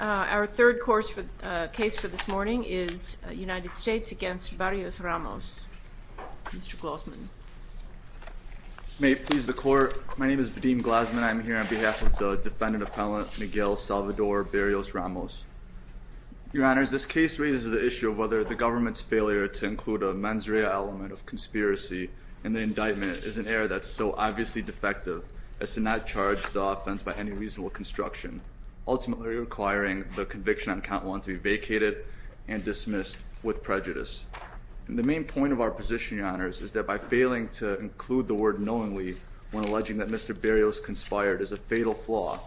Our third case for this morning is United States v. Barrios-Ramos. Mr. Glasman. May it please the Court, my name is Vadim Glasman. I am here on behalf of the defendant-appellant Miguel Salvador Barrios-Ramos. Your Honors, this case raises the issue of whether the government's failure to include a mens rea element of conspiracy in the indictment is an error that is so obviously defective as to not charge the offense by any reasonable construction. Ultimately requiring the conviction on count one to be vacated and dismissed with prejudice. The main point of our position, Your Honors, is that by failing to include the word knowingly when alleging that Mr. Barrios conspired is a fatal flaw.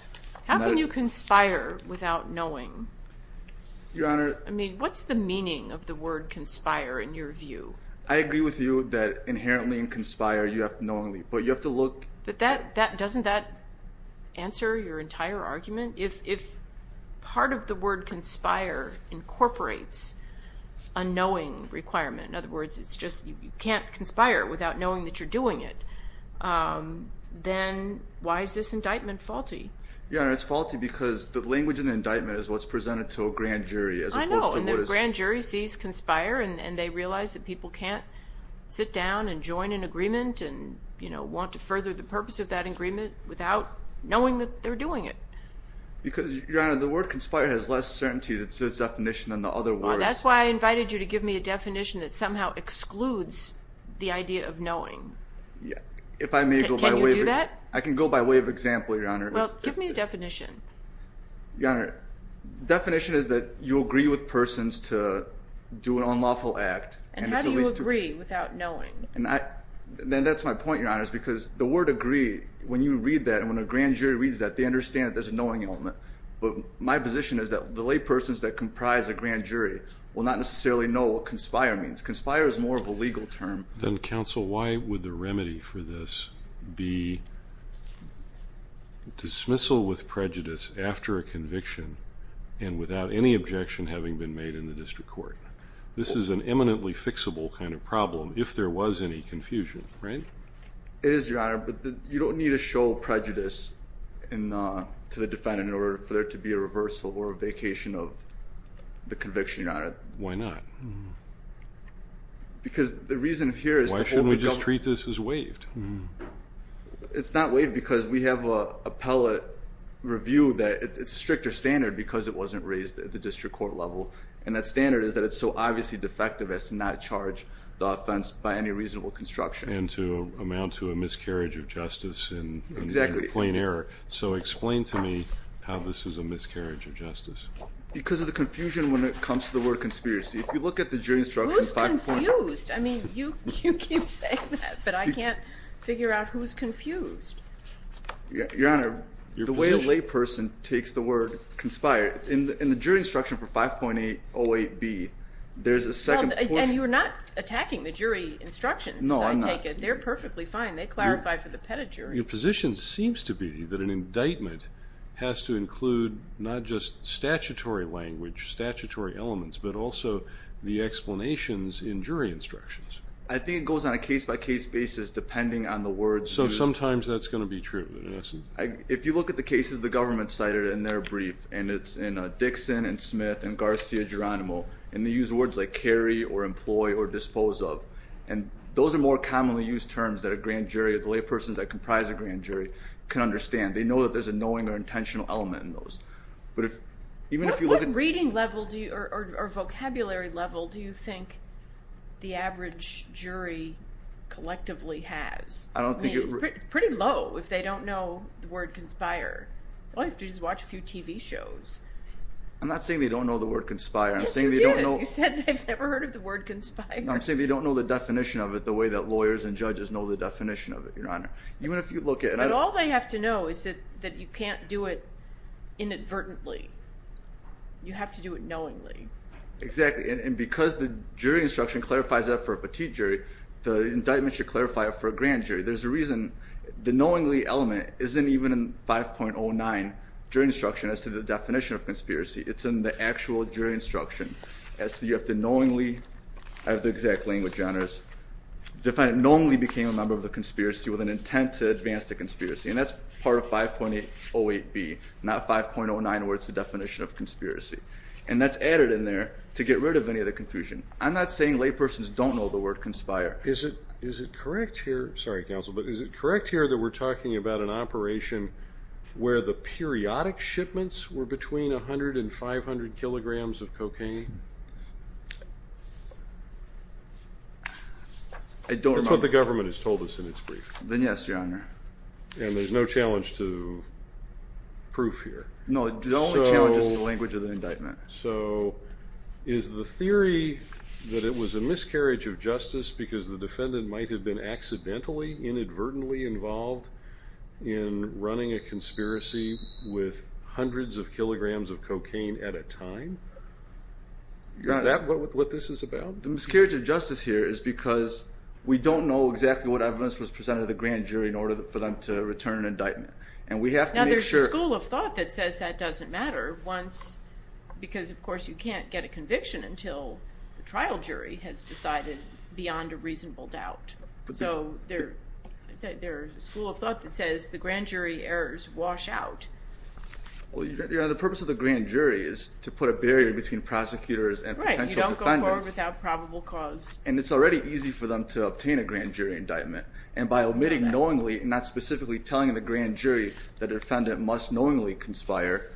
How can you conspire without knowing? Your Honor. I mean, what's the meaning of the word conspire in your view? I agree with you that inherently in conspire you have to knowingly, but you have to look- But doesn't that answer your entire argument? If part of the word conspire incorporates a knowing requirement, in other words, it's just you can't conspire without knowing that you're doing it, then why is this indictment faulty? Your Honor, it's faulty because the language in the indictment is what's presented to a grand jury as opposed to what is- without knowing that they're doing it. Because, Your Honor, the word conspire has less certainty to its definition than the other words. That's why I invited you to give me a definition that somehow excludes the idea of knowing. If I may go by way of- Can you do that? I can go by way of example, Your Honor. Well, give me a definition. Your Honor, the definition is that you agree with persons to do an unlawful act. And how do you agree without knowing? Then that's my point, Your Honor, is because the word agree, when you read that and when a grand jury reads that, they understand that there's a knowing element. But my position is that the laypersons that comprise a grand jury will not necessarily know what conspire means. Conspire is more of a legal term. Then, counsel, why would the remedy for this be dismissal with prejudice after a conviction and without any objection having been made in the district court? This is an eminently fixable kind of problem if there was any confusion, right? It is, Your Honor, but you don't need to show prejudice to the defendant in order for there to be a reversal or a vacation of the conviction, Your Honor. Why not? Because the reason here is- It's not waived because we have a pellet review that it's a stricter standard because it wasn't raised at the district court level. And that standard is that it's so obviously defective as to not charge the offense by any reasonable construction. And to amount to a miscarriage of justice in plain error. So explain to me how this is a miscarriage of justice. Because of the confusion when it comes to the word conspiracy. Who's confused? I mean, you keep saying that, but I can't figure out who's confused. Your Honor, the way a layperson takes the word conspire, in the jury instruction for 5.808B, there's a second portion- And you're not attacking the jury instructions, as I take it. No, I'm not. They're perfectly fine. They clarify for the pettit jury. Your position seems to be that an indictment has to include not just statutory language, statutory elements, but also the explanations in jury instructions. I think it goes on a case-by-case basis depending on the words used. So sometimes that's going to be true. If you look at the cases the government cited in their brief, and it's in Dixon and Smith and Garcia Geronimo, and they use words like carry or employ or dispose of. And those are more commonly used terms that a grand jury or the laypersons that comprise a grand jury can understand. They know that there's a knowing or intentional element in those. What reading level or vocabulary level do you think the average jury collectively has? I don't think- I mean, it's pretty low if they don't know the word conspire. All they have to do is watch a few TV shows. I'm not saying they don't know the word conspire. Yes, you did. You said they've never heard of the word conspire. I'm saying they don't know the definition of it the way that lawyers and judges know the definition of it, Your Honor. Even if you look at- But all they have to know is that you can't do it inadvertently. You have to do it knowingly. Exactly. And because the jury instruction clarifies that for a petite jury, the indictment should clarify it for a grand jury. There's a reason the knowingly element isn't even in 5.09 jury instruction as to the definition of conspiracy. It's in the actual jury instruction as to you have to knowingly- I have the exact language, Your Honors- knowingly became a member of the conspiracy with an intent to advance the conspiracy. And that's part of 5.08B, not 5.09 where it's the definition of conspiracy. And that's added in there to get rid of any of the confusion. I'm not saying laypersons don't know the word conspire. Is it correct here that we're talking about an operation where the periodic shipments were between 100 and 500 kilograms of cocaine? I don't remember. That's what the government has told us in its brief. Then yes, Your Honor. And there's no challenge to proof here. No, the only challenge is the language of the indictment. So is the theory that it was a miscarriage of justice because the defendant might have been accidentally, inadvertently involved in running a conspiracy with hundreds of kilograms of cocaine at a time? Is that what this is about? The miscarriage of justice here is because we don't know exactly what evidence was presented to the grand jury in order for them to return an indictment. And we have to make sure- Because, of course, you can't get a conviction until the trial jury has decided beyond a reasonable doubt. So there's a school of thought that says the grand jury errors wash out. Well, Your Honor, the purpose of the grand jury is to put a barrier between prosecutors and potential defendants. Right, you don't go forward without probable cause. And it's already easy for them to obtain a grand jury indictment. And by omitting knowingly and not specifically telling the grand jury the defendant must knowingly conspire,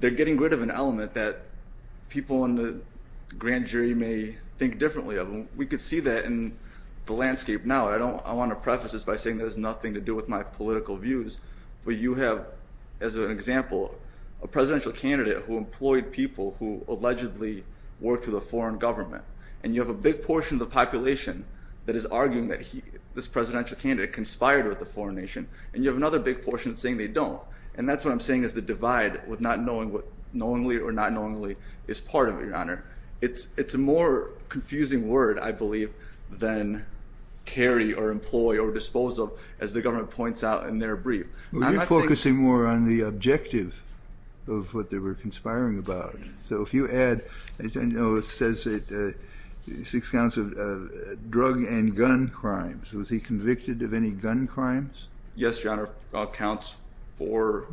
they're getting rid of an element that people in the grand jury may think differently of. We could see that in the landscape now. I want to preface this by saying that has nothing to do with my political views. But you have, as an example, a presidential candidate who employed people who allegedly worked for the foreign government. And you have a big portion of the population that is arguing that this presidential candidate conspired with the foreign nation. And you have another big portion saying they don't. And that's what I'm saying is the divide with not knowingly or not knowingly is part of it, Your Honor. It's a more confusing word, I believe, than carry or employ or dispose of, as the government points out in their brief. Well, you're focusing more on the objective of what they were conspiring about. So if you add, as I know, it says six counts of drug and gun crimes. Was he convicted of any gun crimes? Yes, Your Honor. Counts four.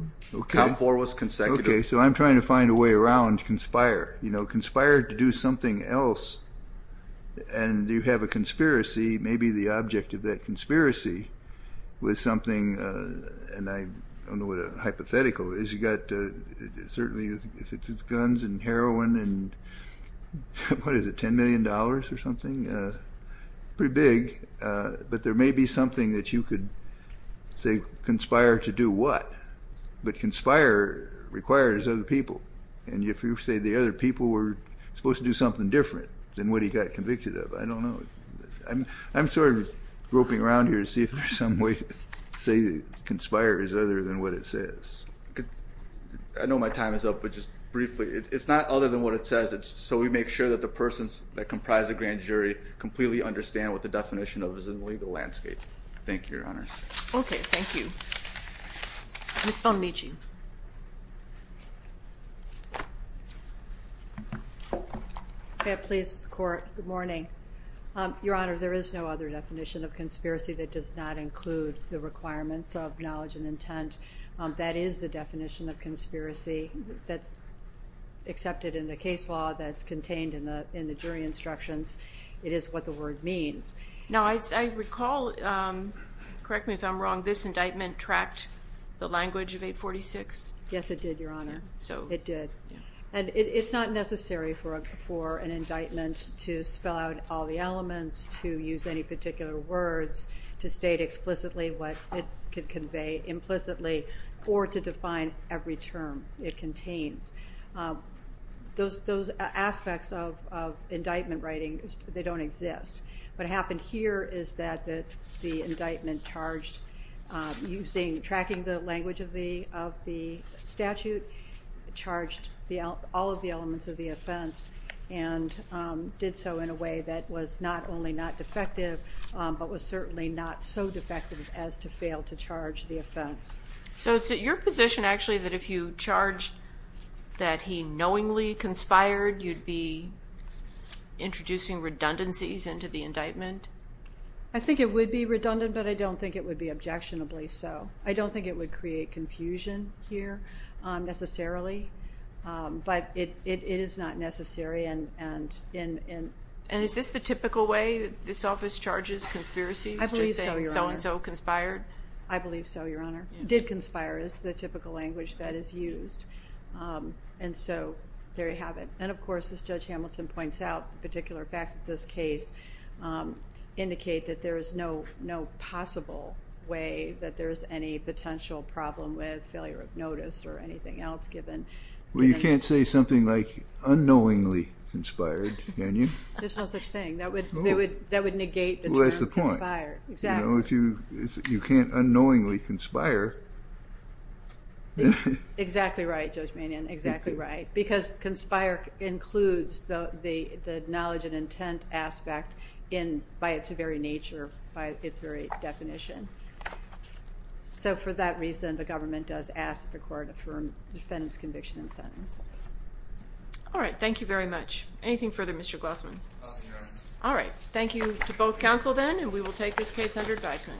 Count four was consecutive. Okay. So I'm trying to find a way around conspire. You know, conspire to do something else. And you have a conspiracy. Maybe the object of that conspiracy was something, and I don't know what a hypothetical is. You've got certainly if it's guns and heroin and what is it, $10 million or something? Pretty big. But there may be something that you could say conspire to do what. But conspire requires other people. And if you say the other people were supposed to do something different than what he got convicted of, I don't know. I'm sort of groping around here to see if there's some way to say conspire is other than what it says. I know my time is up, but just briefly. It's not other than what it says. So we make sure that the persons that comprise the grand jury completely understand what the definition of is in the legal landscape. Thank you, Your Honor. Okay, thank you. Ms. Palmici. Okay, please, Court. Good morning. Your Honor, there is no other definition of conspiracy that does not include the requirements of knowledge and intent. That is the definition of conspiracy that's accepted in the case law, that's contained in the jury instructions. It is what the word means. Now, I recall, correct me if I'm wrong, this indictment tracked the language of 846? Yes, it did, Your Honor. It did. And it's not necessary for an indictment to spell out all the elements, to use any particular words, to state explicitly what it could convey implicitly, or to define every term it contains. Those aspects of indictment writing, they don't exist. What happened here is that the indictment charged, tracking the language of the statute, charged all of the elements of the offense and did so in a way that was not only not defective, but was certainly not so defective as to fail to charge the offense. So it's at your position, actually, that if you charged that he knowingly conspired, you'd be introducing redundancies into the indictment? I think it would be redundant, but I don't think it would be objectionably so. I don't think it would create confusion here necessarily, but it is not necessary. And is this the typical way this office charges conspiracies, just saying so-and-so conspired? I believe so, Your Honor. Did conspire is the typical language that is used. And so there you have it. And, of course, as Judge Hamilton points out, the particular facts of this case indicate that there is no possible way that there is any potential problem with failure of notice or anything else given. Well, you can't say something like unknowingly conspired, can you? There's no such thing. That would negate the term conspired. Well, that's the point. Exactly. You can't unknowingly conspire. Exactly right, Judge Manion, exactly right, because conspire includes the knowledge and intent aspect by its very nature, by its very definition. So for that reason, the government does ask that the court affirm the defendant's conviction and sentence. All right. Thank you very much. Anything further, Mr. Glossman? No, Your Honor. All right. Thank you to both counsel then, and we will take this case under advisement. Thank you.